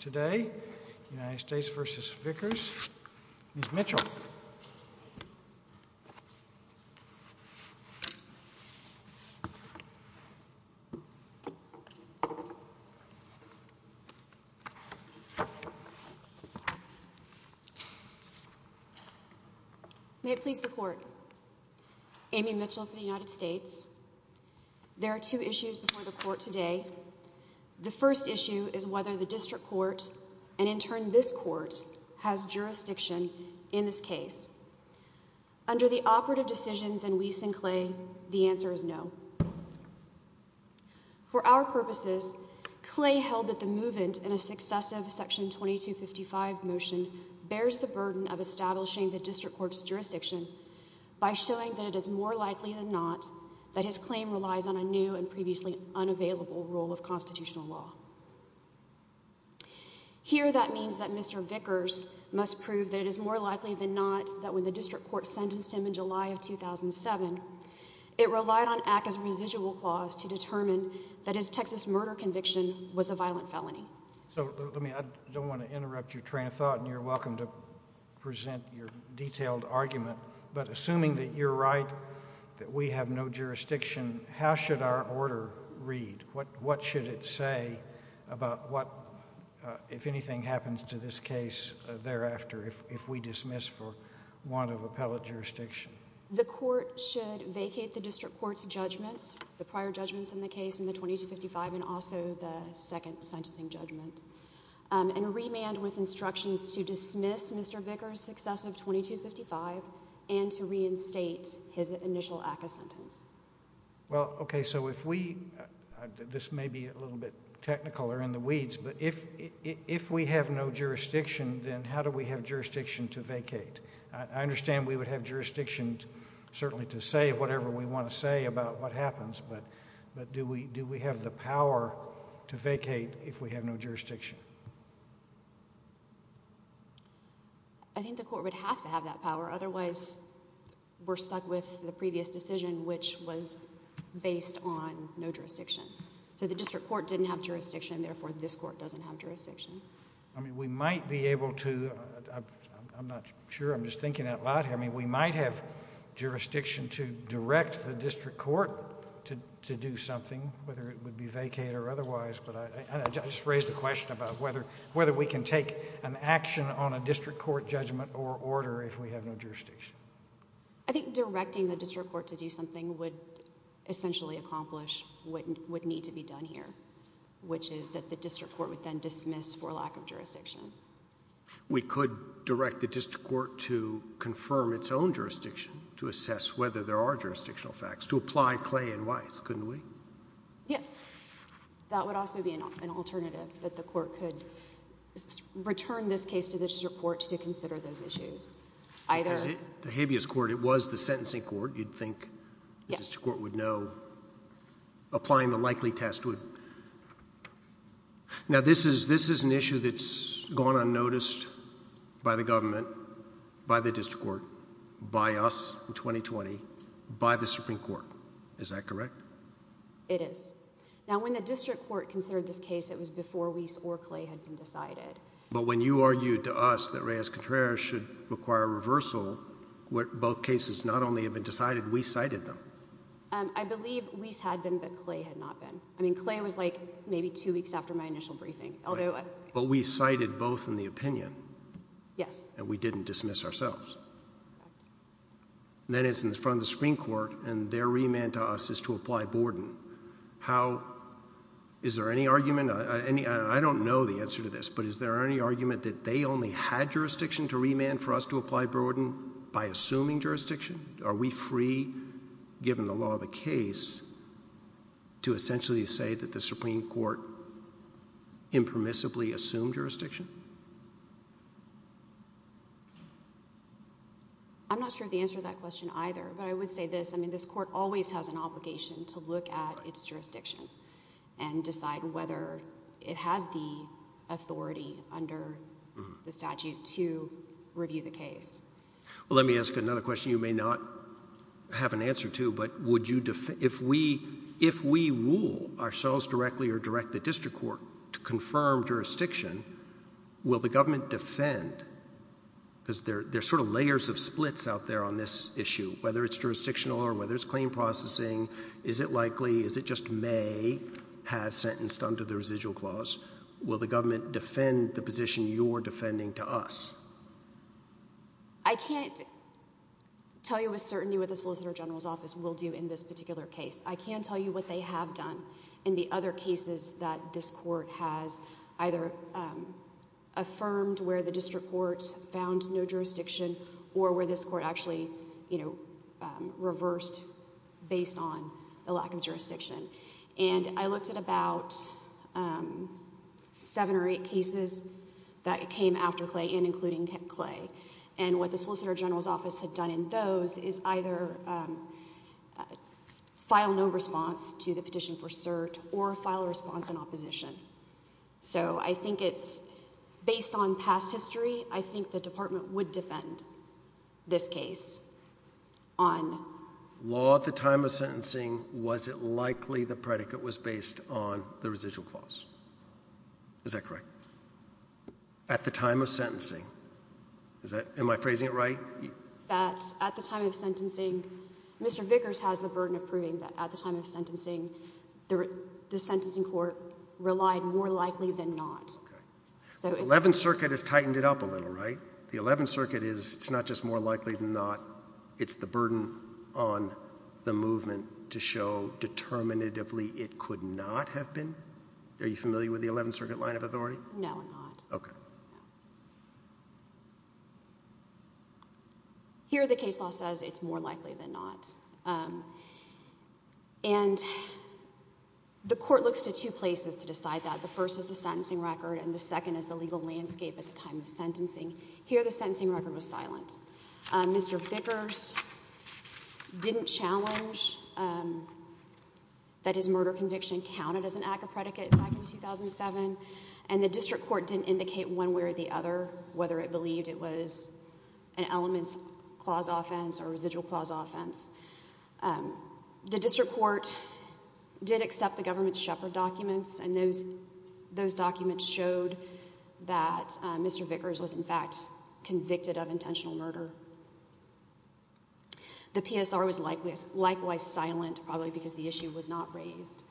today, United States v. Vickers. Ms. Mitchell. May it please the court. Amy Mitchell for the court. The first issue is whether the district court and in turn, this court has jurisdiction in this case. Under the operative decisions in Weiss and Clay, the answer is no. For our purposes, Clay held that the movement in a successive section 2255 motion bears the burden of establishing the district court's jurisdiction by showing that it is more likely than not that his claim relies on a new and previously unavailable rule of constitutional law. Here, that means that Mr. Vickers must prove that it is more likely than not that when the district court sentenced him in July of 2007, it relied on ACCA's residual clause to determine that his Texas murder conviction was a violent felony. So, let me, I don't want to interrupt your train of thought and you're welcome to present your detailed argument, but assuming that you're right, that we have no jurisdiction, how should our order read? What should it say about what, if anything happens to this case thereafter, if we dismiss for want of appellate jurisdiction? The court should vacate the district court's judgments, the prior judgments in the case in the 2255 and also the second sentencing judgment, and remand with instructions to dismiss Mr. Vickers in the 2255 and to reinstate his initial ACCA sentence. Well, okay, so if we, this may be a little bit technical or in the weeds, but if we have no jurisdiction, then how do we have jurisdiction to vacate? I understand we would have jurisdiction certainly to say whatever we want to say about what happens, but do we have the power to vacate if we have no jurisdiction? I think the court would have to have that power, otherwise we're stuck with the previous decision, which was based on no jurisdiction. So, the district court didn't have jurisdiction, therefore this court doesn't have jurisdiction. I mean, we might be able to, I'm not sure, I'm just thinking out loud here, I mean, we might have jurisdiction to direct the district court to do something, whether it would be vacate or otherwise, but I just raised a question about whether we can take an action on a district court judgment or order if we have no jurisdiction. I think directing the district court to do something would essentially accomplish what would need to be done here, which is that the district court would then dismiss for lack of jurisdiction. We could direct the district court to confirm its own jurisdiction to assess whether there are jurisdictional facts, to apply Clay and Weiss, couldn't we? Yes. That would also be an alternative, that the court could return this case to the district court to consider those issues. The habeas court, it was the sentencing court, you'd think the district court would know. Applying the likely test would. Now, this is an issue that's gone unnoticed by the government, by the district court, by us in 2020, by the Supreme Court. Is that correct? It is. Now, when the district court considered this case, it was before Weiss or Clay had been decided. But when you argued to us that Reyes-Contreras should require reversal, both cases not only have been decided, Weiss cited them. I believe Weiss had been, but Clay had not been. I mean, Clay was like maybe two weeks after my initial briefing. But we cited both in the opinion. Yes. And we didn't dismiss ourselves. Then it's in front of the Supreme Court, and their remand to us is to apply Borden. How, is there any argument, I don't know the answer to this, but is there any argument that they only had jurisdiction to remand for us to apply Borden by assuming jurisdiction? Are we free, given the law of the case, to essentially say that the Supreme Court impermissibly assumed jurisdiction? I'm not sure of the answer to that question either, but I would say this. I mean, this court always has an obligation to look at its jurisdiction and decide whether it has the authority under the statute to review the case. Well, let me ask another question you may not have an answer to, but if we rule ourselves directly or direct the district court to confirm jurisdiction, will the government defend, because there are sort of layers of splits out there on this issue, whether it's jurisdictional or whether it's claim processing, is it likely, is it just may have sentenced under the residual clause, will the government defend the position you're defending to us? I can't tell you with certainty what the Solicitor General's Office will do in this particular case. I can tell you what they have done in the other cases that this court has either affirmed where the district court found no jurisdiction or where this court actually reversed based on the lack of jurisdiction. And I looked at about seven or eight cases that came after Clay and including Clay, and what the Solicitor General's Office had done in those is either file no response to the petition for cert or file a response in opposition. So I think it's, based on past history, I think the department would defend this case on... It's likely the predicate was based on the residual clause. Is that correct? At the time of sentencing, is that, am I phrasing it right? That at the time of sentencing, Mr. Vickers has the burden of proving that at the time of sentencing, the sentencing court relied more likely than not. Okay. The Eleventh Circuit has tightened it up a little, right? The Eleventh Circuit is, it's not just more likely than not. It's the burden on the movement to show determinatively it could not have been. Are you familiar with the Eleventh Circuit line of authority? No, I'm not. Okay. Here the case law says it's more likely than not. And the court looks to two places to decide that. The first is the sentencing record and the second is the legal landscape at the time of sentencing. Here the sentencing record was silent. Mr. Vickers didn't challenge that his murder conviction counted as an act of predicate back in 2007. And the district court didn't indicate one way or the other whether it believed it was an elements clause offense or residual clause offense. The district court did accept the government's shepherd documents, and those documents showed that Mr. Vickers was, in fact, convicted of intentional murder. The PSR was likewise silent, probably because the issue was not raised.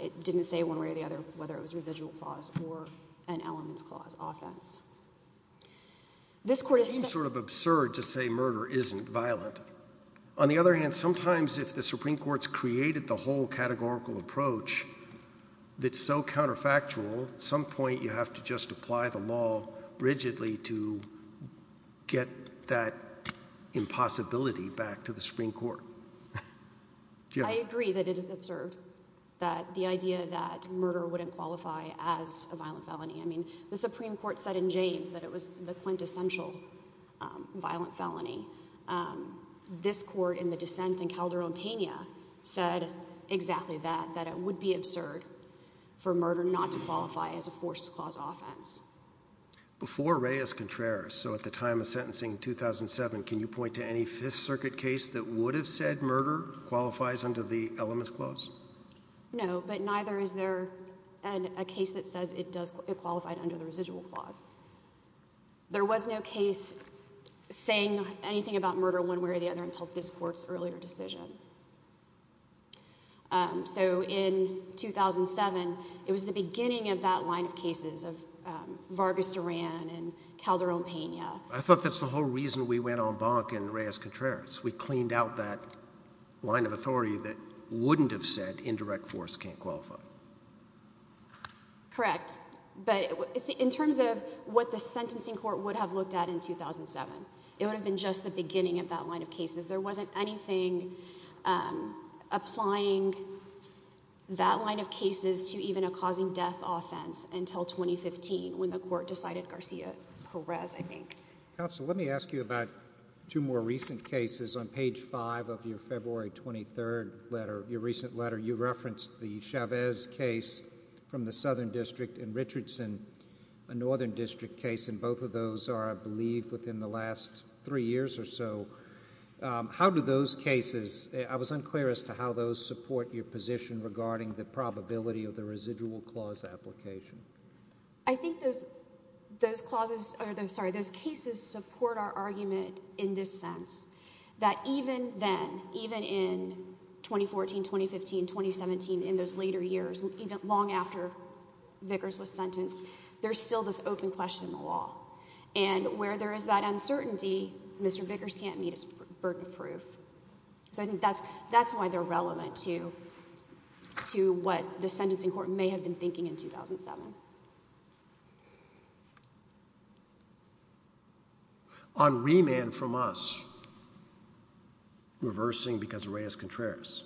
It didn't say one way or the other whether it was residual clause or an elements clause offense. It seems sort of absurd to say murder isn't violent. On the other hand, sometimes if the Supreme Court's created the whole categorical approach that's so counterfactual, at some point you have to just apply the law rigidly to get that impossibility back to the Supreme Court. I agree that it is absurd, that the idea that murder wouldn't qualify as a violent felony. I mean, the Supreme Court said in James that it was the quintessential violent felony. This court in the dissent in Calderon-Pena said exactly that, that it would be absurd for murder not to qualify as a forced clause offense. Before Reyes-Contreras, so at the time of sentencing in 2007, can you point to any Fifth Circuit case that would have said murder qualifies under the elements clause? No, but neither is there a case that says it qualified under the residual clause. There was no case saying anything about murder one way or the other until this court's earlier decision. So in 2007, it was the beginning of that line of cases of Vargas-Duran and Calderon-Pena. I thought that's the whole reason we went on bonk in Reyes-Contreras. We cleaned out that line of authority that wouldn't have said indirect force can't qualify. Correct. But in terms of what the sentencing court would have looked at in 2007, it would have been just the beginning of that line of cases. There wasn't anything applying that line of cases to even a causing death offense until 2015 when the court decided Garcia-Perez, I think. Counsel, let me ask you about two more recent cases. On page 5 of your February 23 letter, your recent letter, you referenced the Chavez case from the Southern District and Richardson, a Northern District case. And both of those are, I believe, within the last three years or so. How do those cases – I was unclear as to how those support your position regarding the probability of the residual clause application. I think those cases support our argument in this sense, that even then, even in 2014, 2015, 2017, in those later years, long after Vickers was sentenced, there's still this open question in the law. And where there is that uncertainty, Mr. Vickers can't meet his burden of proof. So I think that's why they're relevant to what the sentencing court may have been thinking in 2007. On remand from us, reversing because of Reyes-Contreras,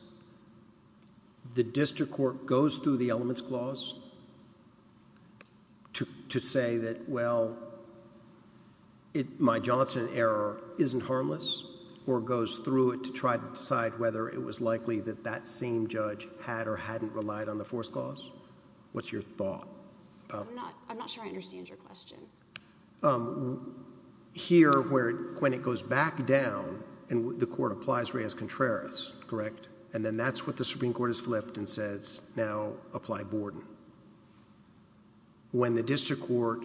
the district court goes through the elements clause to say that, well, my Johnson error isn't harmless? Or goes through it to try to decide whether it was likely that that same judge had or hadn't relied on the force clause? What's your thought? I'm not sure I understand your question. Here, when it goes back down, the court applies Reyes-Contreras, correct? And then that's what the Supreme Court has flipped and says, now apply Borden. When the district court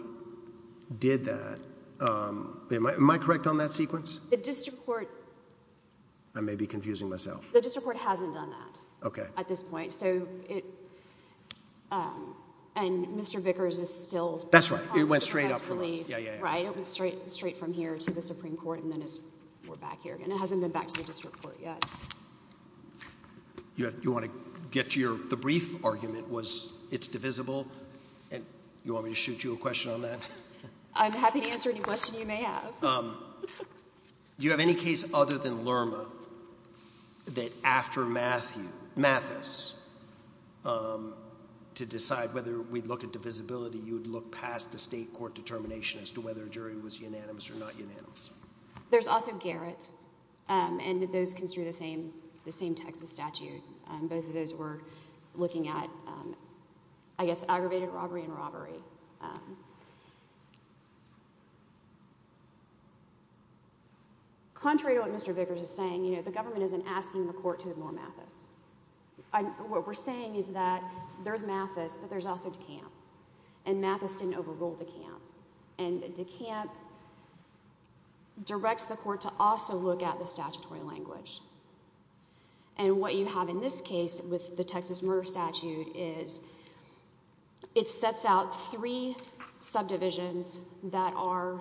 did that – am I correct on that sequence? The district court – I may be confusing myself. The district court hasn't done that at this point. So it – and Mr. Vickers is still – That's right. It went straight up from us. Yeah, yeah, yeah. Right? It went straight from here to the Supreme Court and then it's – we're back here again. It hasn't been back to the district court yet. You want to get to your – the brief argument was it's divisible. And you want me to shoot you a question on that? I'm happy to answer any question you may have. Do you have any case other than Lerma that after Mathis to decide whether we'd look at divisibility, you would look past the state court determination as to whether a jury was unanimous or not unanimous? There's also Garrett. And those construe the same Texas statute. Both of those were looking at, I guess, aggravated robbery and robbery. Contrary to what Mr. Vickers is saying, the government isn't asking the court to ignore Mathis. What we're saying is that there's Mathis, but there's also DeKalb. And Mathis didn't overrule DeKalb. And DeKalb directs the court to also look at the statutory language And what you have in this case with the Texas murder statute is it sets out three subdivisions that are,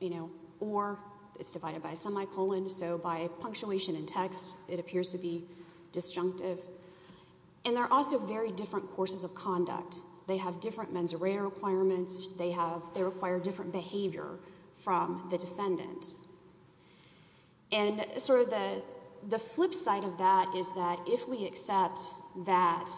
you know, or it's divided by a semicolon, so by punctuation and text it appears to be disjunctive. And they're also very different courses of conduct. They have different mens rea requirements. They require different behavior from the defendant. And sort of the flip side of that is that if we accept that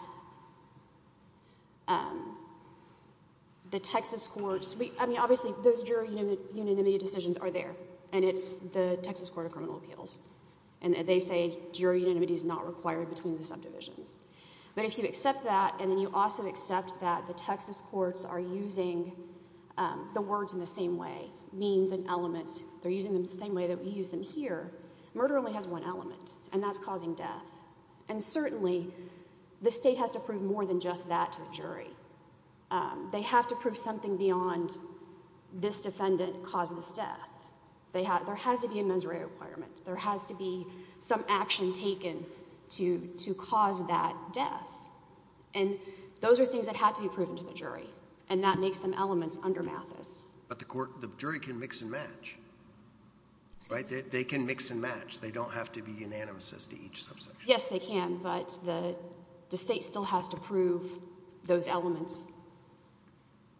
the Texas courts, I mean, obviously those jury unanimity decisions are there, and it's the Texas Court of Criminal Appeals. And they say jury unanimity is not required between the subdivisions. But if you accept that, and then you also accept that the Texas courts are using the words in the same way, they're using them the same way that we use them here, murder only has one element, and that's causing death. And certainly the state has to prove more than just that to the jury. They have to prove something beyond this defendant caused this death. There has to be a mens rea requirement. There has to be some action taken to cause that death. And those are things that have to be proven to the jury, and that makes them elements under Mathis. But the jury can mix and match, right? They can mix and match. They don't have to be unanimous as to each subsection. Yes, they can, but the state still has to prove those elements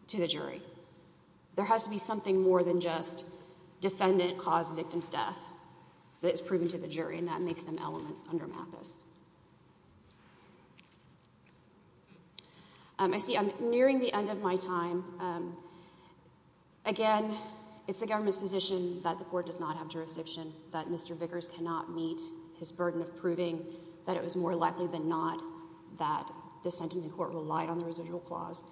to the jury. There has to be something more than just defendant caused victim's death that is proven to the jury, and that makes them elements under Mathis. I see I'm nearing the end of my time. Again, it's the government's position that the court does not have jurisdiction, that Mr. Vickers cannot meet his burden of proving that it was more likely than not that the sentencing court relied on the residual clause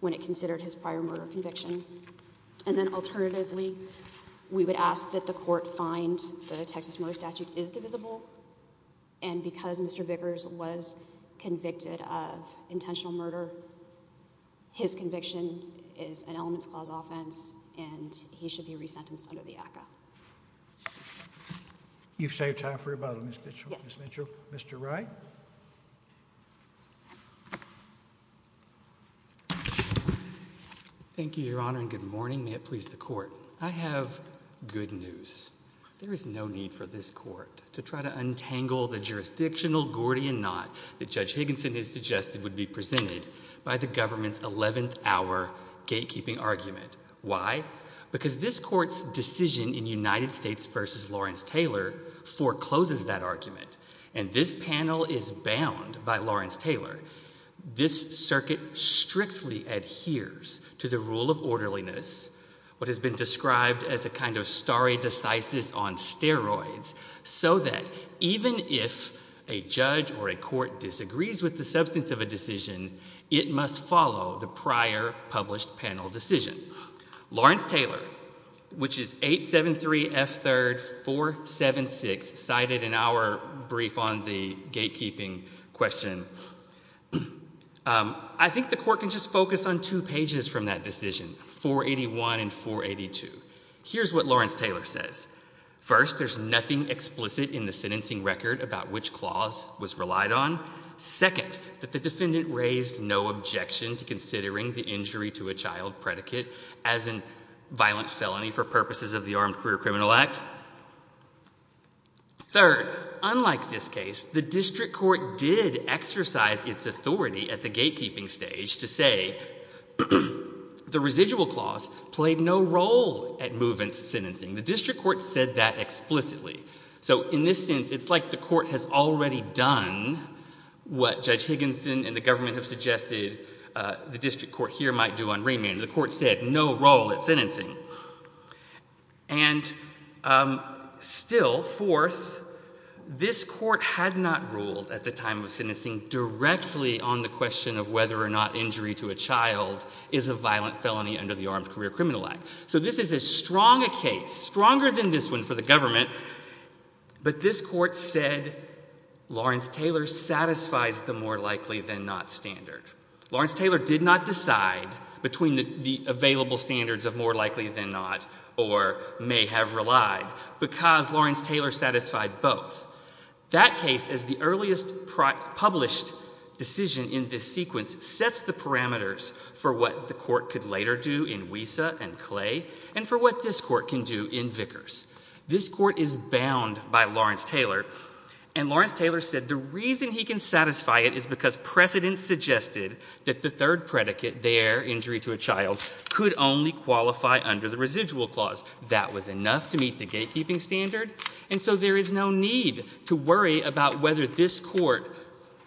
when it considered his prior murder conviction. And then alternatively, we would ask that the court find that a Texas murder statute is divisible, and because Mr. Vickers was convicted of intentional murder, his conviction is an elements clause offense, and he should be resentenced under the ACCA. You've saved time for rebuttal, Ms. Mitchell. Mr. Wright? Thank you, Your Honor, and good morning. May it please the court. I have good news. There is no need for this court to try to untangle the jurisdictional Gordian knot that Judge Higginson has suggested would be presented by the government's 11th hour gatekeeping argument. Why? Because this court's decision in United States v. Lawrence Taylor forecloses that argument, and this panel is bound by Lawrence Taylor. This circuit strictly adheres to the rule of orderliness, what has been described as a kind of stare decisis on steroids, so that even if a judge or a court disagrees with the substance of a decision, it must follow the prior published panel decision. Lawrence Taylor, which is 873 F. 3rd 476, cited in our brief on the gatekeeping question, I think the court can just focus on two pages from that decision, 481 and 482. Here's what Lawrence Taylor says. First, there's nothing explicit in the sentencing record about which clause was relied on. Second, that the defendant raised no objection to considering the injury to a child predicate as a violent felony for purposes of the Armed Criminal Act. Third, unlike this case, the district court did exercise its authority at the gatekeeping stage to say the residual clause played no role at movement sentencing. The district court said that explicitly. So in this sense, it's like the court has already done what Judge Higginson and the government have suggested the district court here might do on remand. The court said no role at sentencing. And still, fourth, this court had not ruled at the time of sentencing directly on the question of whether or not injury to a child is a violent felony under the Armed Career Criminal Act. So this is as strong a case, stronger than this one for the government, but this court said Lawrence Taylor satisfies the more likely than not standard. Lawrence Taylor did not decide between the available standards of more likely than not or may have relied because Lawrence Taylor satisfied both. That case is the earliest published decision in this sequence, sets the parameters for what the court could later do in Wiesa and Clay and for what this court can do in Vickers. This court is bound by Lawrence Taylor, and Lawrence Taylor said the reason he can satisfy it is because precedent suggested that the third predicate, the air injury to a child, could only qualify under the residual clause. That was enough to meet the gatekeeping standard, and so there is no need to worry about whether this court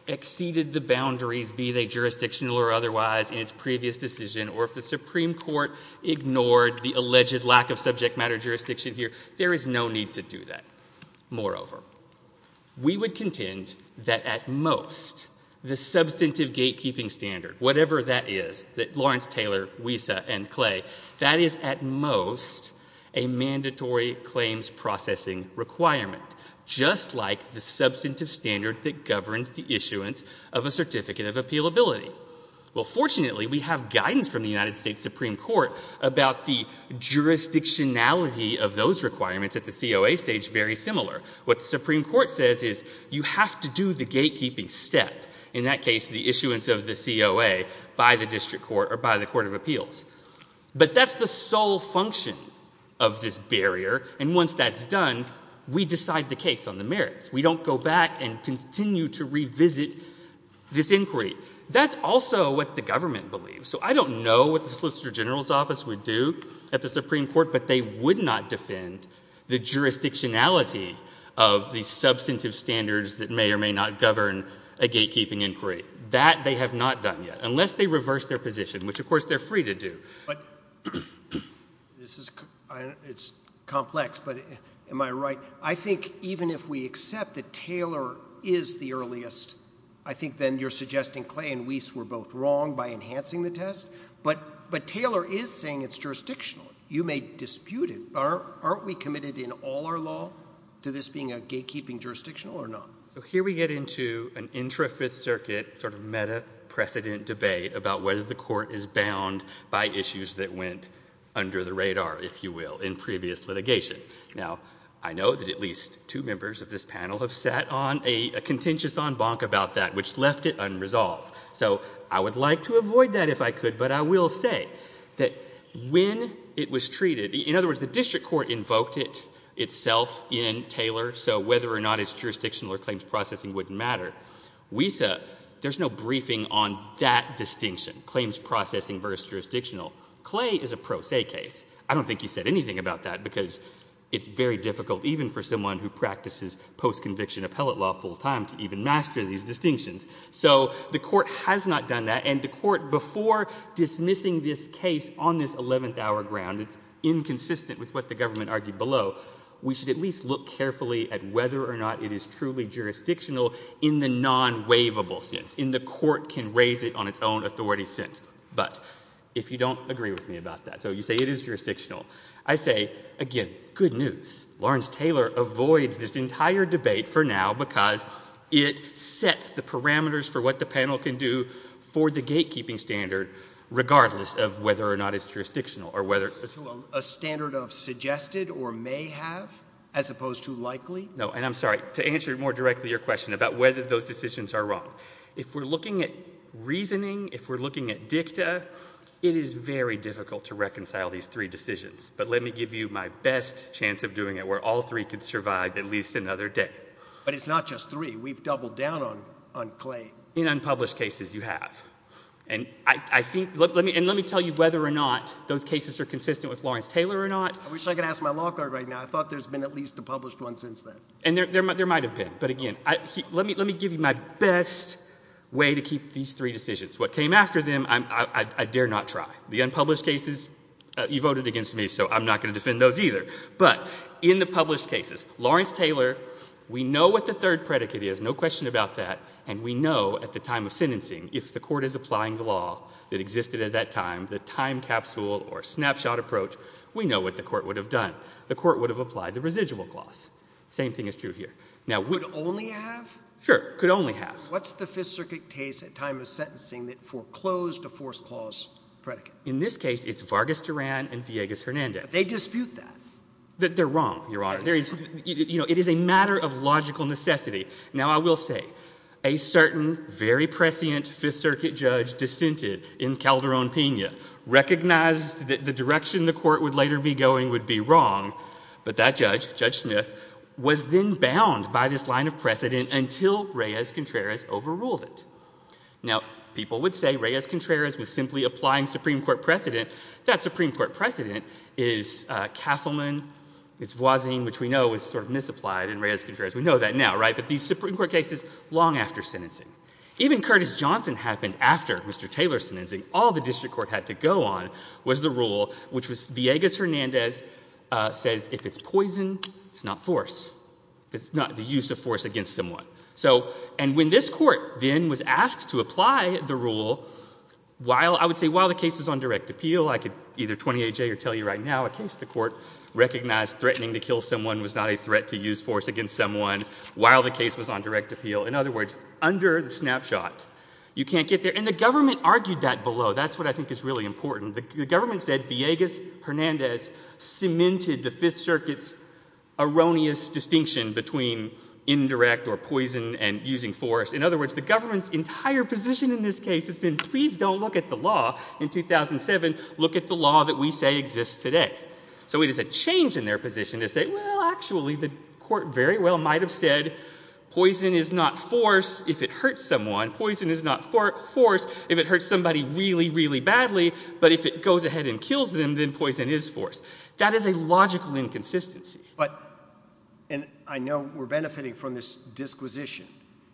exceeded the boundaries, be they jurisdictional or otherwise, in its previous decision or if the Supreme Court ignored the alleged lack of subject matter jurisdiction here. There is no need to do that. Moreover, we would contend that at most the substantive gatekeeping standard, whatever that is, that Lawrence Taylor, Wiesa, and Clay, that is at most a mandatory claims processing requirement, just like the substantive standard that governs the issuance of a certificate of appealability. Well, fortunately, we have guidance from the United States Supreme Court about the jurisdictionality of those requirements at the COA stage very similar. What the Supreme Court says is you have to do the gatekeeping step, in that case the issuance of the COA, by the district court or by the court of appeals. But that's the sole function of this barrier, and once that's done, we decide the case on the merits. We don't go back and continue to revisit this inquiry. That's also what the government believes. So I don't know what the Solicitor General's Office would do at the Supreme Court, but they would not defend the jurisdictionality of the substantive standards that may or may not govern a gatekeeping inquiry. That they have not done yet, unless they reverse their position, which, of course, they're free to do. But this is complex, but am I right? I think even if we accept that Taylor is the earliest, I think then you're suggesting Clay and Weiss were both wrong by enhancing the test, but Taylor is saying it's jurisdictional. You may dispute it. Aren't we committed in all our law to this being a gatekeeping jurisdictional or not? So here we get into an intra-Fifth Circuit sort of meta-precedent debate about whether the court is bound by issues that went under the radar, if you will, in previous litigation. Now, I know that at least two members of this panel have sat on a contentious en banc about that, which left it unresolved. So I would like to avoid that if I could, but I will say that when it was treated, in other words, the district court invoked it itself in Taylor, so whether or not it's jurisdictional or claims processing wouldn't matter. Weiss, there's no briefing on that distinction, claims processing versus jurisdictional. Clay is a pro se case. I don't think he said anything about that because it's very difficult, even for someone who practices post-conviction appellate law full time, to even master these distinctions. So the court has not done that, and the court, before dismissing this case on this 11th hour ground, it's inconsistent with what the government argued below, we should at least look carefully at whether or not it is truly jurisdictional in the non-waivable sense, in the court can raise it on its own authority sense. But if you don't agree with me about that, so you say it is jurisdictional, I say, again, good news. Lawrence Taylor avoids this entire debate for now because it sets the parameters for what the panel can do for the gatekeeping standard, regardless of whether or not it's jurisdictional. A standard of suggested or may have as opposed to likely? No, and I'm sorry, to answer more directly your question about whether those decisions are wrong. If we're looking at reasoning, if we're looking at dicta, it is very difficult to reconcile these three decisions. But let me give you my best chance of doing it where all three could survive at least another day. But it's not just three. We've doubled down on Clay. In unpublished cases, you have. And let me tell you whether or not those cases are consistent with Lawrence Taylor or not. I wish I could ask my law court right now. I thought there's been at least a published one since then. And there might have been. But again, let me give you my best way to keep these three decisions. What came after them, I dare not try. The unpublished cases, you voted against me, so I'm not going to defend those either. But in the published cases, Lawrence Taylor, we know what the third predicate is. No question about that. And we know at the time of sentencing if the court is applying the law that existed at that time, the time capsule or snapshot approach, we know what the court would have done. The court would have applied the residual clause. Same thing is true here. Now, would only have? Sure, could only have. What's the Fifth Circuit case at time of sentencing that foreclosed a forced clause predicate? In this case, it's Vargas Duran and Villegas Hernandez. But they dispute that. They're wrong, Your Honor. It is a matter of logical necessity. Now, I will say, a certain very prescient Fifth Circuit judge dissented in Calderon, Pena, recognized that the direction the court would later be going would be wrong. But that judge, Judge Smith, was then bound by this line of precedent until Reyes-Contreras overruled it. Now, people would say Reyes-Contreras was simply applying Supreme Court precedent. That Supreme Court precedent is Castleman. It's Voisin, which we know is sort of misapplied in Reyes-Contreras. We know that now, right? But these Supreme Court cases, long after sentencing. Even Curtis Johnson happened after Mr. Taylor's sentencing. All the district court had to go on was the rule, which was Villegas-Hernandez says, if it's poison, it's not force. It's not the use of force against someone. So, and when this court then was asked to apply the rule, while, I would say, while the case was on direct appeal, I could either 28J or tell you right now, in the case the court recognized threatening to kill someone was not a threat to use force against someone while the case was on direct appeal. In other words, under the snapshot, you can't get there. And the government argued that below. That's what I think is really important. The government said Villegas-Hernandez cemented the Fifth Circuit's erroneous distinction between indirect or poison and using force. In other words, the government's entire position in this case has been, please don't look at the law in 2007. Look at the law that we say exists today. So it is a change in their position to say, well, actually, the court very well might have said, poison is not force if it hurts someone. Poison is not force if it hurts somebody really, really badly. But if it goes ahead and kills them, then poison is force. That is a logical inconsistency. But, and I know we're benefiting from this disquisition.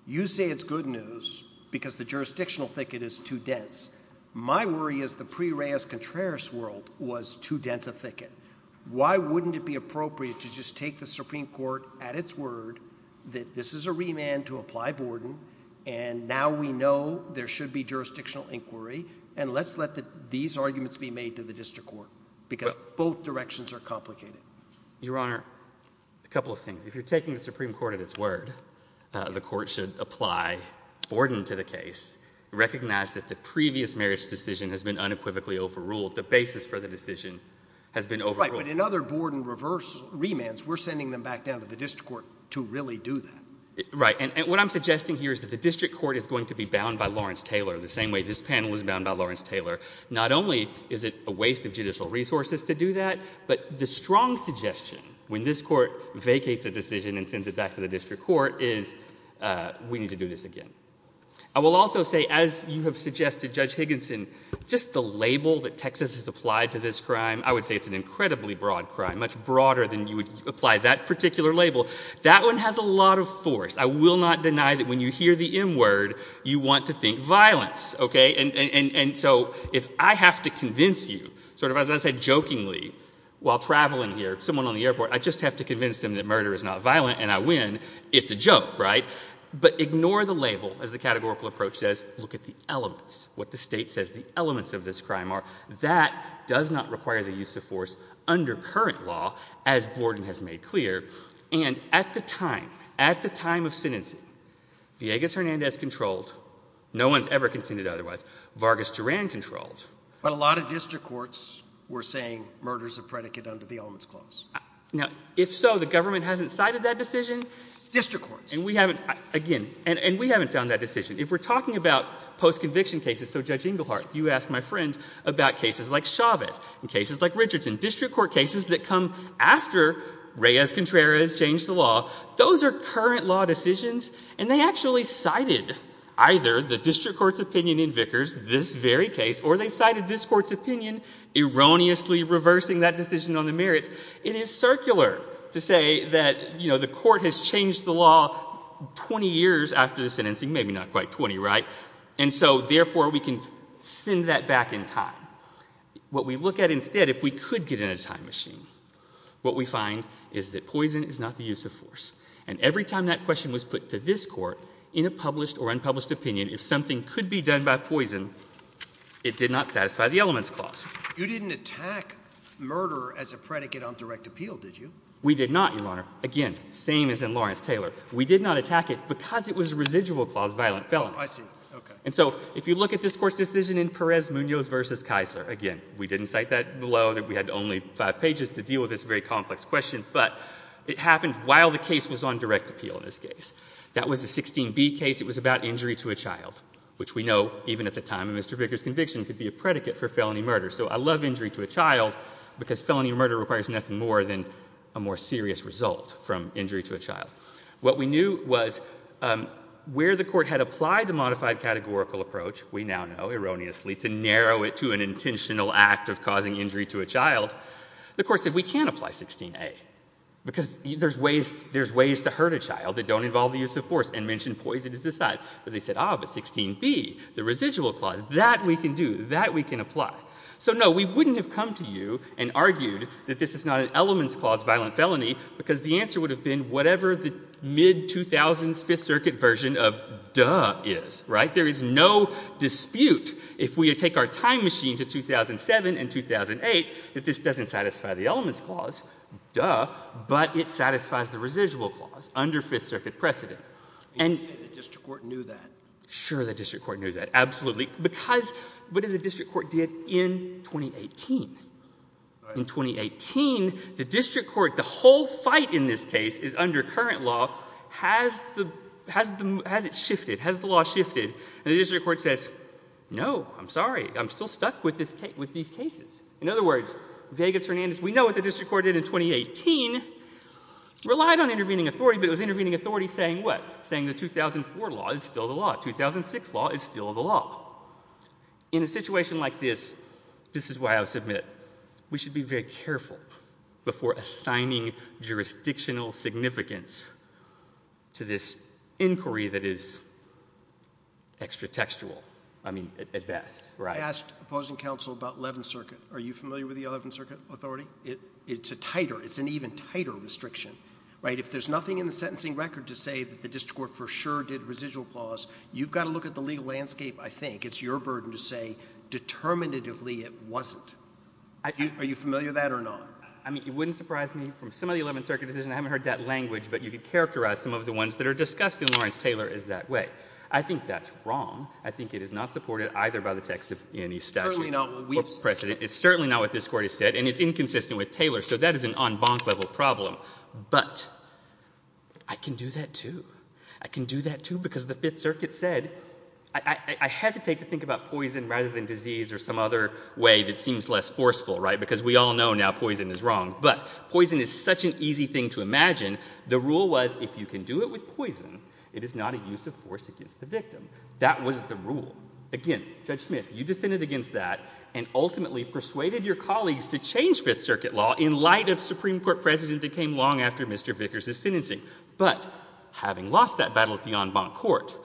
You say it's good news because the jurisdictional thicket is too dense. My worry is the pre-Reyes-Contreras world was too dense a thicket. Why wouldn't it be appropriate to just take the Supreme Court at its word that this is a remand to apply Borden, and now we know there should be jurisdictional inquiry, and let's let these arguments be made to the district court? Because both directions are complicated. Your Honor, a couple of things. If you're taking the Supreme Court at its word, the court should apply Borden to the case, recognize that the previous marriage decision has been unequivocally overruled. The basis for the decision has been overruled. Right, but in other Borden remands, we're sending them back down to the district court to really do that. Right, and what I'm suggesting here is that the district court is going to be bound by Lawrence Taylor the same way this panel is bound by Lawrence Taylor. Not only is it a waste of judicial resources to do that, but the strong suggestion, when this court vacates a decision and sends it back to the district court, is we need to do this again. I will also say, as you have suggested, Judge Higginson, just the label that Texas has applied to this crime, I would say it's an incredibly broad crime, much broader than you would apply that particular label. That one has a lot of force. I will not deny that when you hear the M word, you want to think violence. Okay, and so if I have to convince you, sort of as I said jokingly while traveling here, someone on the airport, I just have to convince them that murder is not violent and I win, it's a joke, right? But ignore the label as the categorical approach says. Look at the elements, what the state says the elements of this crime are. That does not require the use of force under current law, as Borden has made clear. And at the time, at the time of sentencing, Villegas-Hernandez controlled. No one's ever continued otherwise. Vargas-Duran controlled. But a lot of district courts were saying murder is a predicate under the elements clause. Now, if so, the government hasn't cited that decision. District courts. And we haven't, again, and we haven't found that decision. If we're talking about post-conviction cases, so Judge Englehart, you asked my friend about cases like Chavez and cases like Richardson, district court cases that come after Reyes-Contreras changed the law. Those are current law decisions. And they actually cited either the district court's opinion in Vickers, this very case, or they cited this court's opinion, erroneously reversing that decision on the merits. It is circular to say that, you know, the court has changed the law 20 years after the sentencing. Maybe not quite 20, right? And so, therefore, we can send that back in time. What we look at instead, if we could get in a time machine, what we find is that poison is not the use of force. And every time that question was put to this Court in a published or unpublished opinion, if something could be done by poison, it did not satisfy the elements clause. You didn't attack murder as a predicate on direct appeal, did you? We did not, Your Honor. Again, same as in Lawrence-Taylor. We did not attack it because it was a residual clause violent felony. Oh, I see. Okay. And so if you look at this Court's decision in Perez-Munoz v. Kisler, again, we didn't cite that below, that we had only five pages to deal with this very complex question, but it happened while the case was on direct appeal in this case. That was a 16b case. It was about injury to a child, which we know, even at the time of Mr. Vickers' conviction, could be a predicate for felony murder. So I love injury to a child because felony murder requires nothing more than a more serious result from injury to a child. What we knew was where the Court had applied the modified categorical approach, we now know erroneously, to narrow it to an intentional act of causing injury to a child. The Court said we can't apply 16a because there's ways to hurt a child that don't involve the use of force and mention poisons aside. But they said, ah, but 16b, the residual clause, that we can do. That we can apply. So, no, we wouldn't have come to you and argued that this is not an elements clause violent felony because the answer would have been whatever the mid-2000s Fifth Circuit version of duh is, right? There is no dispute, if we take our time machine to 2007 and 2008, that this doesn't satisfy the elements clause, duh, but it satisfies the residual clause under Fifth Circuit precedent. And you say the district court knew that? Sure, the district court knew that, absolutely. Because what did the district court do in 2018? In 2018, the district court, the whole fight in this case is under current law. Has it shifted? Has the law shifted? And the district court says, no, I'm sorry, I'm still stuck with these cases. In other words, Vegas Hernandez, we know what the district court did in 2018, relied on intervening authority, but it was intervening authority saying what? Saying the 2004 law is still the law. 2006 law is still the law. In a situation like this, this is why I would submit, we should be very careful before assigning jurisdictional significance to this inquiry that is extra textual, I mean, at best. I asked opposing counsel about Eleventh Circuit. Are you familiar with the Eleventh Circuit authority? It's a tighter, it's an even tighter restriction, right? If there's nothing in the sentencing record to say that the district court for sure did residual clause, you've got to look at the legal landscape, I think. I think it's your burden to say determinatively it wasn't. Are you familiar with that or not? I mean, it wouldn't surprise me. From some of the Eleventh Circuit decisions, I haven't heard that language, but you could characterize some of the ones that are discussed in Lawrence-Taylor as that way. I think that's wrong. I think it is not supported either by the text of any statute or precedent. It's certainly not what this Court has said, and it's inconsistent with Taylor, so that is an en banc level problem. But I can do that too. I can do that too because the Fifth Circuit said I hesitate to think about poison rather than disease or some other way that seems less forceful, right, because we all know now poison is wrong. But poison is such an easy thing to imagine. The rule was if you can do it with poison, it is not a use of force against the victim. That was the rule. Again, Judge Smith, you dissented against that and ultimately persuaded your colleagues to change Fifth Circuit law in light of Supreme Court precedent that came long after Mr. Vickers' sentencing. But having lost that battle at the en banc Court,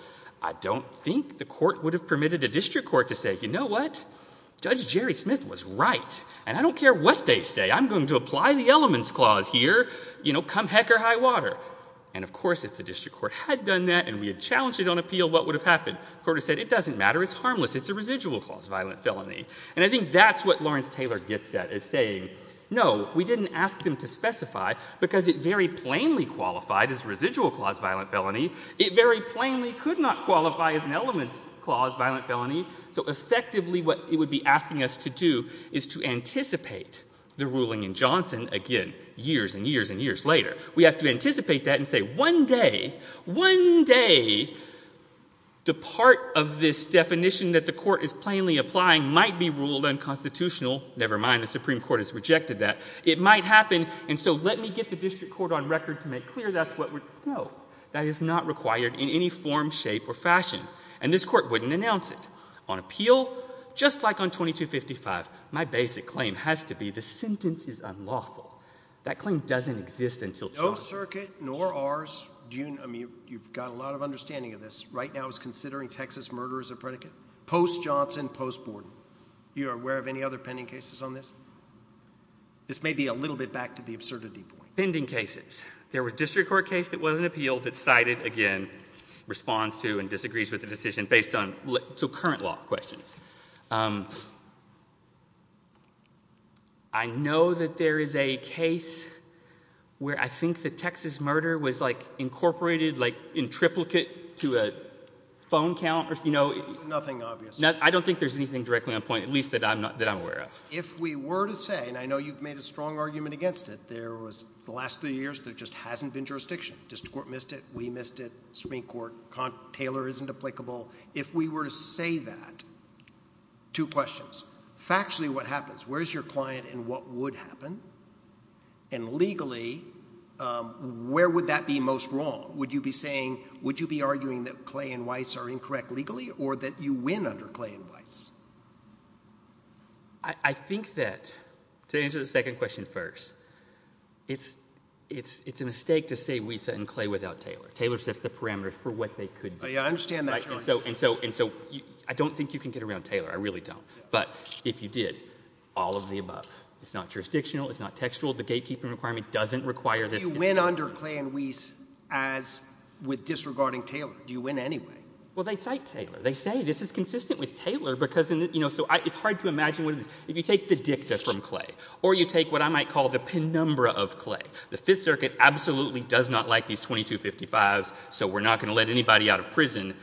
I don't think the Court would have permitted a district court to say, you know what? Judge Jerry Smith was right, and I don't care what they say. I'm going to apply the Elements Clause here. You know, come heck or high water. And, of course, if the district court had done that and we had challenged it on appeal, what would have happened? The Court would have said it doesn't matter. It's harmless. It's a residual-clause violent felony. And I think that's what Lawrence-Taylor gets at, is saying, no, we didn't ask them to specify because it very plainly qualified as residual-clause violent felony. It very plainly could not qualify as an Elements Clause violent felony. So, effectively, what it would be asking us to do is to anticipate the ruling in Johnson, again, years and years and years later. We have to anticipate that and say, one day, one day, the part of this definition that the Court is plainly applying might be ruled unconstitutional. Never mind, the Supreme Court has rejected that. It might happen, and so let me get the district court on record to make clear that's what would— No. That is not required in any form, shape, or fashion. And this Court wouldn't announce it. On appeal, just like on 2255, my basic claim has to be the sentence is unlawful. That claim doesn't exist until Johnson— No circuit, nor ours. I mean, you've got a lot of understanding of this. Right now it's considering Texas murder as a predicate. Post-Johnson, post-Borden. You are aware of any other pending cases on this? This may be a little bit back to the absurdity point. Pending cases. There was a district court case that wasn't appealed that cited, again, responds to and disagrees with the decision based on—so current law questions. I know that there is a case where I think the Texas murder was, like, incorporated, like, in triplicate to a phone count. Nothing obvious. I don't think there's anything directly on point, at least that I'm aware of. If we were to say—and I know you've made a strong argument against it. There was—the last three years, there just hasn't been jurisdiction. District court missed it. We missed it. Supreme Court. Taylor isn't applicable. If we were to say that, two questions. Factually, what happens? Where is your client and what would happen? And legally, where would that be most wrong? Would you be saying—would you be arguing that Clay and Weiss are incorrect legally or that you win under Clay and Weiss? I think that, to answer the second question first, it's a mistake to say Weiss and Clay without Taylor. Taylor sets the parameters for what they could do. I understand that, Your Honor. And so I don't think you can get around Taylor. I really don't. But if you did, all of the above. It's not jurisdictional. It's not textual. The gatekeeping requirement doesn't require this. Do you win under Clay and Weiss as—with disregarding Taylor? Do you win anyway? Well, they cite Taylor. They say this is consistent with Taylor because—you know, so it's hard to imagine what it is. If you take the dicta from Clay or you take what I might call the penumbra of Clay, the Fifth Circuit absolutely does not like these 2255s, so we're not going to let anybody out of prison.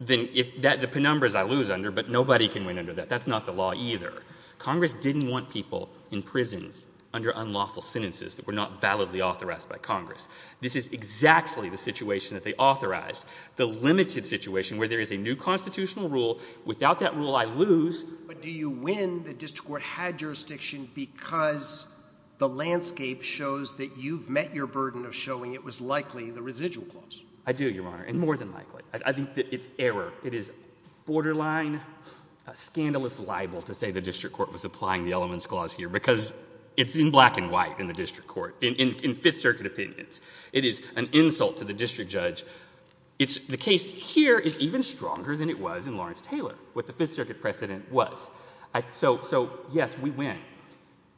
Then if—the penumbras I lose under, but nobody can win under that. That's not the law either. Congress didn't want people in prison under unlawful sentences that were not validly authorized by Congress. This is exactly the situation that they authorized, the limited situation where there is a new constitutional rule. Without that rule, I lose. But do you win the district court had jurisdiction because the landscape shows that you've met your burden of showing it was likely the residual clause? I do, Your Honor, and more than likely. I think it's error. It is borderline scandalous libel to say the district court was applying the elements clause here because it's in black and white in the district court, in Fifth Circuit opinions. It is an insult to the district judge. It's—the case here is even stronger than it was in Lawrence-Taylor, what the Fifth Circuit precedent was. So, yes, we win.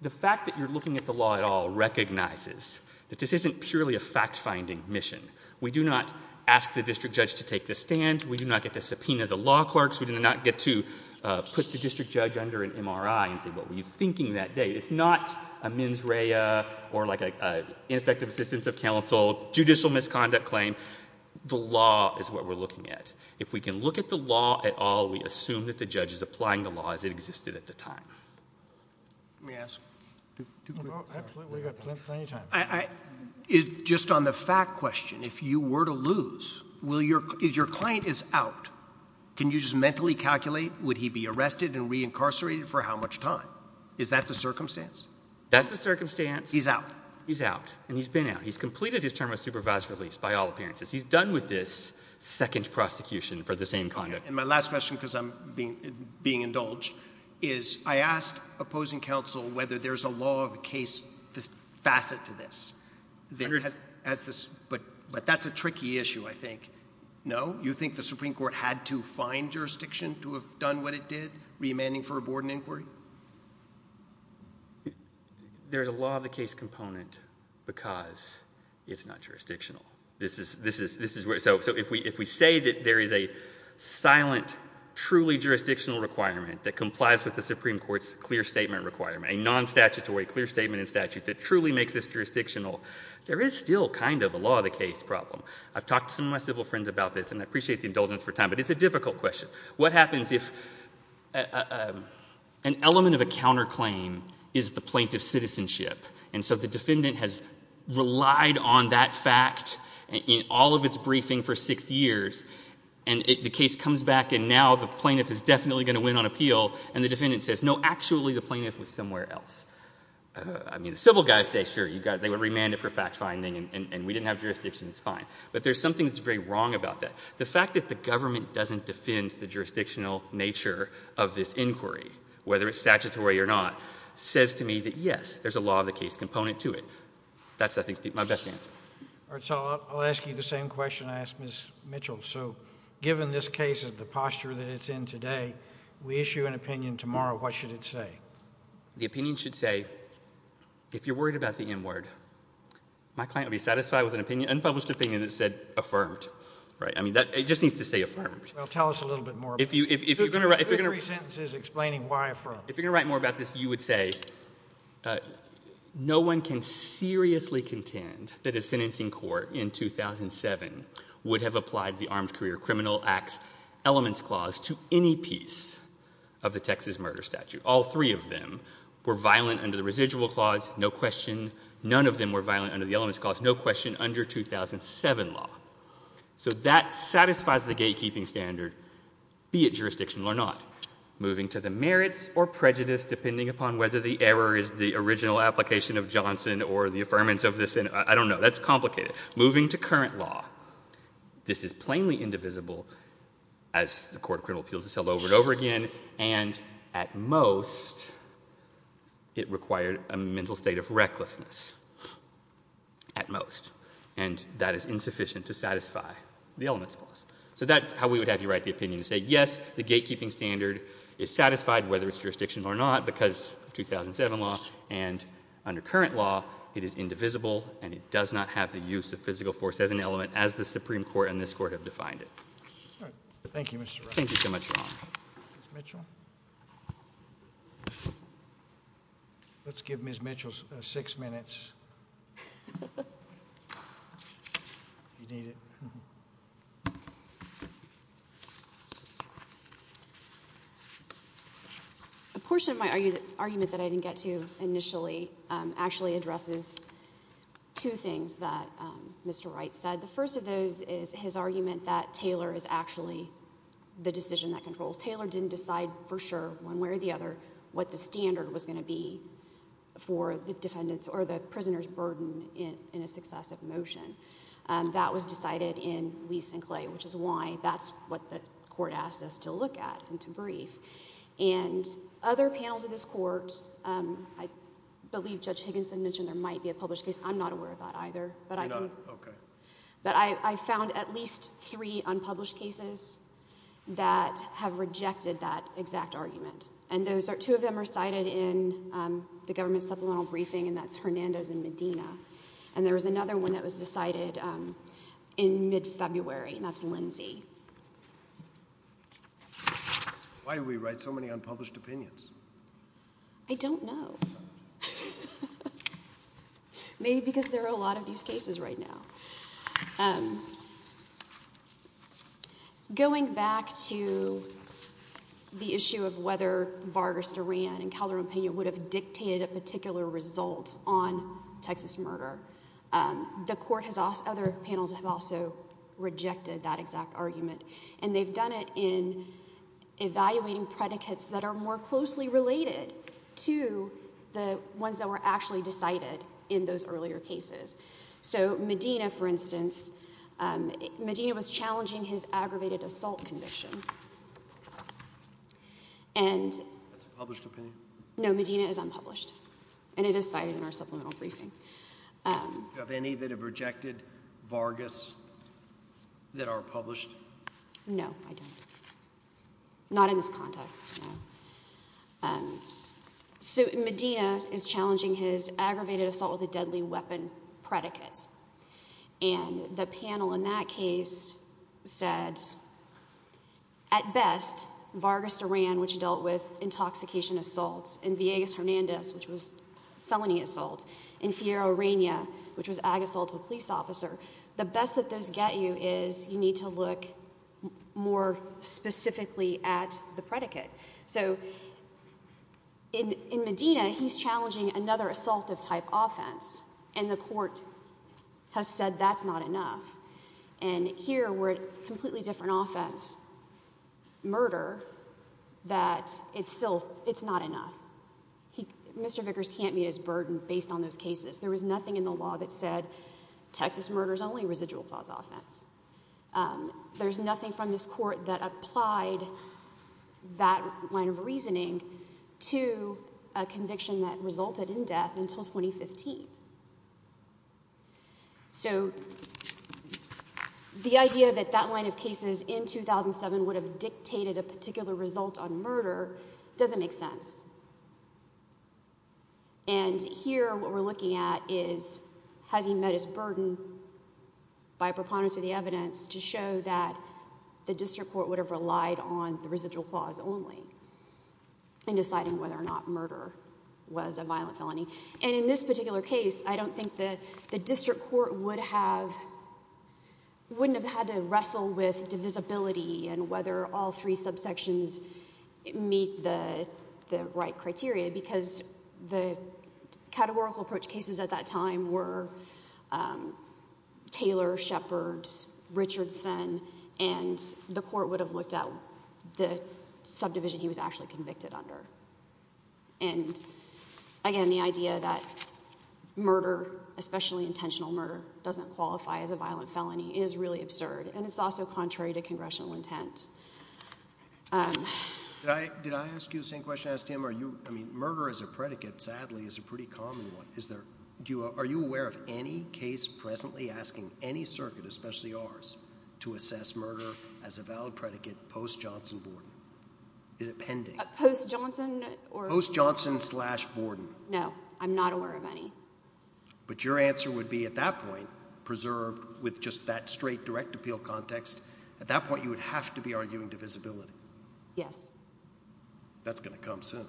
The fact that you're looking at the law at all recognizes that this isn't purely a fact-finding mission. We do not ask the district judge to take the stand. We do not get to subpoena the law clerks. We do not get to put the district judge under an MRI and say, what were you thinking that day? It's not a mens rea or like an ineffective assistance of counsel, judicial misconduct claim. The law is what we're looking at. If we can look at the law at all, we assume that the judge is applying the law as it existed at the time. Let me ask. We've got plenty of time. Just on the fact question, if you were to lose, if your client is out, can you just mentally calculate, would he be arrested and reincarcerated for how much time? Is that the circumstance? That's the circumstance. He's out. He's out, and he's been out. He's completed his term of supervised release by all appearances. He's done with this second prosecution for the same conduct. And my last question, because I'm being indulged, is I asked opposing counsel whether there's a law of the case, this facet to this, but that's a tricky issue, I think. No? You think the Supreme Court had to find jurisdiction to have done what it did, remanding for a board and inquiry? There's a law of the case component because it's not jurisdictional. So if we say that there is a silent, truly jurisdictional requirement that complies with the Supreme Court's clear statement requirement, a non-statutory clear statement in statute that truly makes this jurisdictional, there is still kind of a law of the case problem. I've talked to some of my civil friends about this, and I appreciate the indulgence for time, but it's a difficult question. What happens if an element of a counterclaim is the plaintiff's citizenship, and so the defendant has relied on that fact in all of its briefing for six years, and the case comes back, and now the plaintiff is definitely going to win on appeal, and the defendant says, no, actually, the plaintiff was somewhere else? I mean, the civil guys say, sure, they were remanded for fact-finding, and we didn't have jurisdiction, it's fine. But there's something that's very wrong about that. The fact that the government doesn't defend the jurisdictional nature of this inquiry, whether it's statutory or not, says to me that, yes, there's a law of the case component to it. That's, I think, my best answer. All right. So I'll ask you the same question I asked Ms. Mitchell. So given this case and the posture that it's in today, we issue an opinion tomorrow. What should it say? The opinion should say, if you're worried about the N word, my client would be satisfied with an unpublished opinion that said affirmed. Right? I mean, it just needs to say affirmed. Well, tell us a little bit more. Two or three sentences explaining why affirmed. If you're going to write more about this, you would say, no one can seriously contend that a sentencing court in 2007 would have applied the Armed Career Criminal Act's elements clause to any piece of the Texas murder statute. All three of them were violent under the residual clause, no question. None of them were violent under the elements clause, no question, under 2007 law. So that satisfies the gatekeeping standard, be it jurisdictional or not. Moving to the merits or prejudice, depending upon whether the error is the original application of Johnson or the affirmance of the sentence. I don't know. That's complicated. Moving to current law, this is plainly indivisible, as the court of criminal appeals has held over and over again, and at most, it required a mental state of recklessness. At most. And that is insufficient to satisfy the elements clause. So that's how we would have you write the opinion, to say, yes, the gatekeeping standard is satisfied, whether it's jurisdictional or not, because of 2007 law. And under current law, it is indivisible, and it does not have the use of physical force as an element, as the Supreme Court and this Court have defined it. All right. Thank you so much, Ron. Ms. Mitchell? Let's give Ms. Mitchell six minutes. A portion of my argument that I didn't get to initially actually addresses two things that Mr. Wright said. The first of those is his argument that Taylor is actually the decision that controls. Taylor didn't decide for sure, one way or the other, what the standard was going to be for the defendant's or the prisoner's burden in a successive motion. That was decided in Lease and Clay, which is why that's what the Court asked us to look at and to brief. And other panels of this Court, I believe Judge Higginson mentioned there might be a published case. I'm not aware of that either. You're not? Okay. But I found at least three unpublished cases that have rejected that exact argument. And two of them are cited in the government supplemental briefing, and that's Hernandez and Medina. And there was another one that was decided in mid-February, and that's Lindsay. Why do we write so many unpublished opinions? I don't know. Maybe because there are a lot of these cases right now. Going back to the issue of whether Vargas Duran and Calderon Pena would have dictated a particular result on Texas murder, the Court has asked other panels that have also rejected that exact argument. And they've done it in evaluating predicates that are more closely related to the ones that were actually decided in those earlier cases. So Medina, for instance, Medina was challenging his aggravated assault conviction. That's a published opinion? No, Medina is unpublished, and it is cited in our supplemental briefing. Do you have any that have rejected Vargas that are published? No, I don't. Not in this context, no. So Medina is challenging his aggravated assault with a deadly weapon predicate. And the panel in that case said, at best, Vargas Duran, which dealt with intoxication assaults, and Villegas Hernandez, which was felony assault, and Fierro Reina, which was ag-assault to a police officer, the best that those get you is you need to look more specifically at the predicate. So in Medina, he's challenging another assaultive-type offense, and the court has said that's not enough. And here, we're at a completely different offense, murder, that it's still... it's not enough. Mr Vickers can't meet his burden based on those cases. There was nothing in the law that said Texas murders only residual cause offense. There's nothing from this court that applied that line of reasoning to a conviction that resulted in death until 2015. So the idea that that line of cases in 2007 would have dictated a particular result on murder doesn't make sense. And here, what we're looking at is, has he met his burden by preponderance of the evidence to show that the district court would have relied on the residual clause only in deciding whether or not murder was a violent felony? And in this particular case, I don't think the district court would have... wouldn't have had to wrestle with divisibility and whether all three subsections meet the right criteria because the categorical approach cases at that time were Taylor, Shepard, Richardson, and the court would have looked at the subdivision he was actually convicted under. And again, the idea that murder, especially intentional murder, doesn't qualify as a violent felony is really absurd, and it's also contrary to congressional intent. Did I ask you the same question I asked Tim? Are you... I mean, murder as a predicate, sadly, is a pretty common one. Is there... are you aware of any case presently asking any circuit, especially ours, to assess murder as a valid predicate post-Johnson-Borden? Is it pending? Post-Johnson or... Post-Johnson slash Borden. No, I'm not aware of any. But your answer would be, at that point, preserved with just that straight direct appeal context, at that point you would have to be arguing divisibility. Yes. That's going to come soon.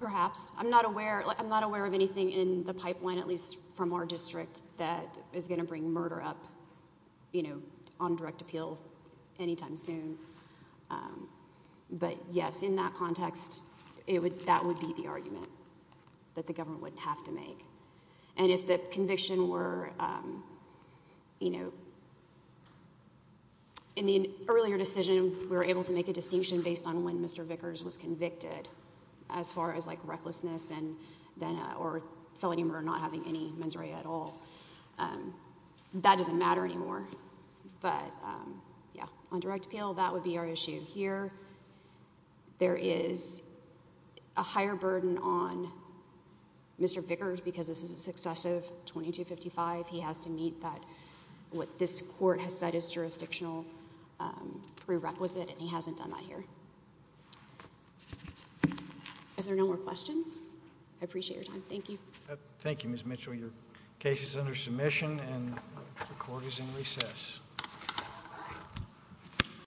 Perhaps. I'm not aware of anything in the pipeline, at least from our district, that is going to bring murder up, you know, on direct appeal anytime soon. But yes, in that context, that would be the argument that the government would have to make. And if the conviction were, you know... In the earlier decision, we were able to make a distinction based on when Mr. Vickers was convicted. As far as, like, recklessness and then... or felony murder not having any mens rea at all. That doesn't matter anymore. But, yeah, on direct appeal, that would be our issue here. There is a higher burden on Mr. Vickers because this is a successive 2255. He has to meet that... what this court has set as jurisdictional prerequisite, and he hasn't done that here. Are there no more questions? I appreciate your time. Thank you. Thank you, Ms. Mitchell. Your case is under submission, and the court is in recess.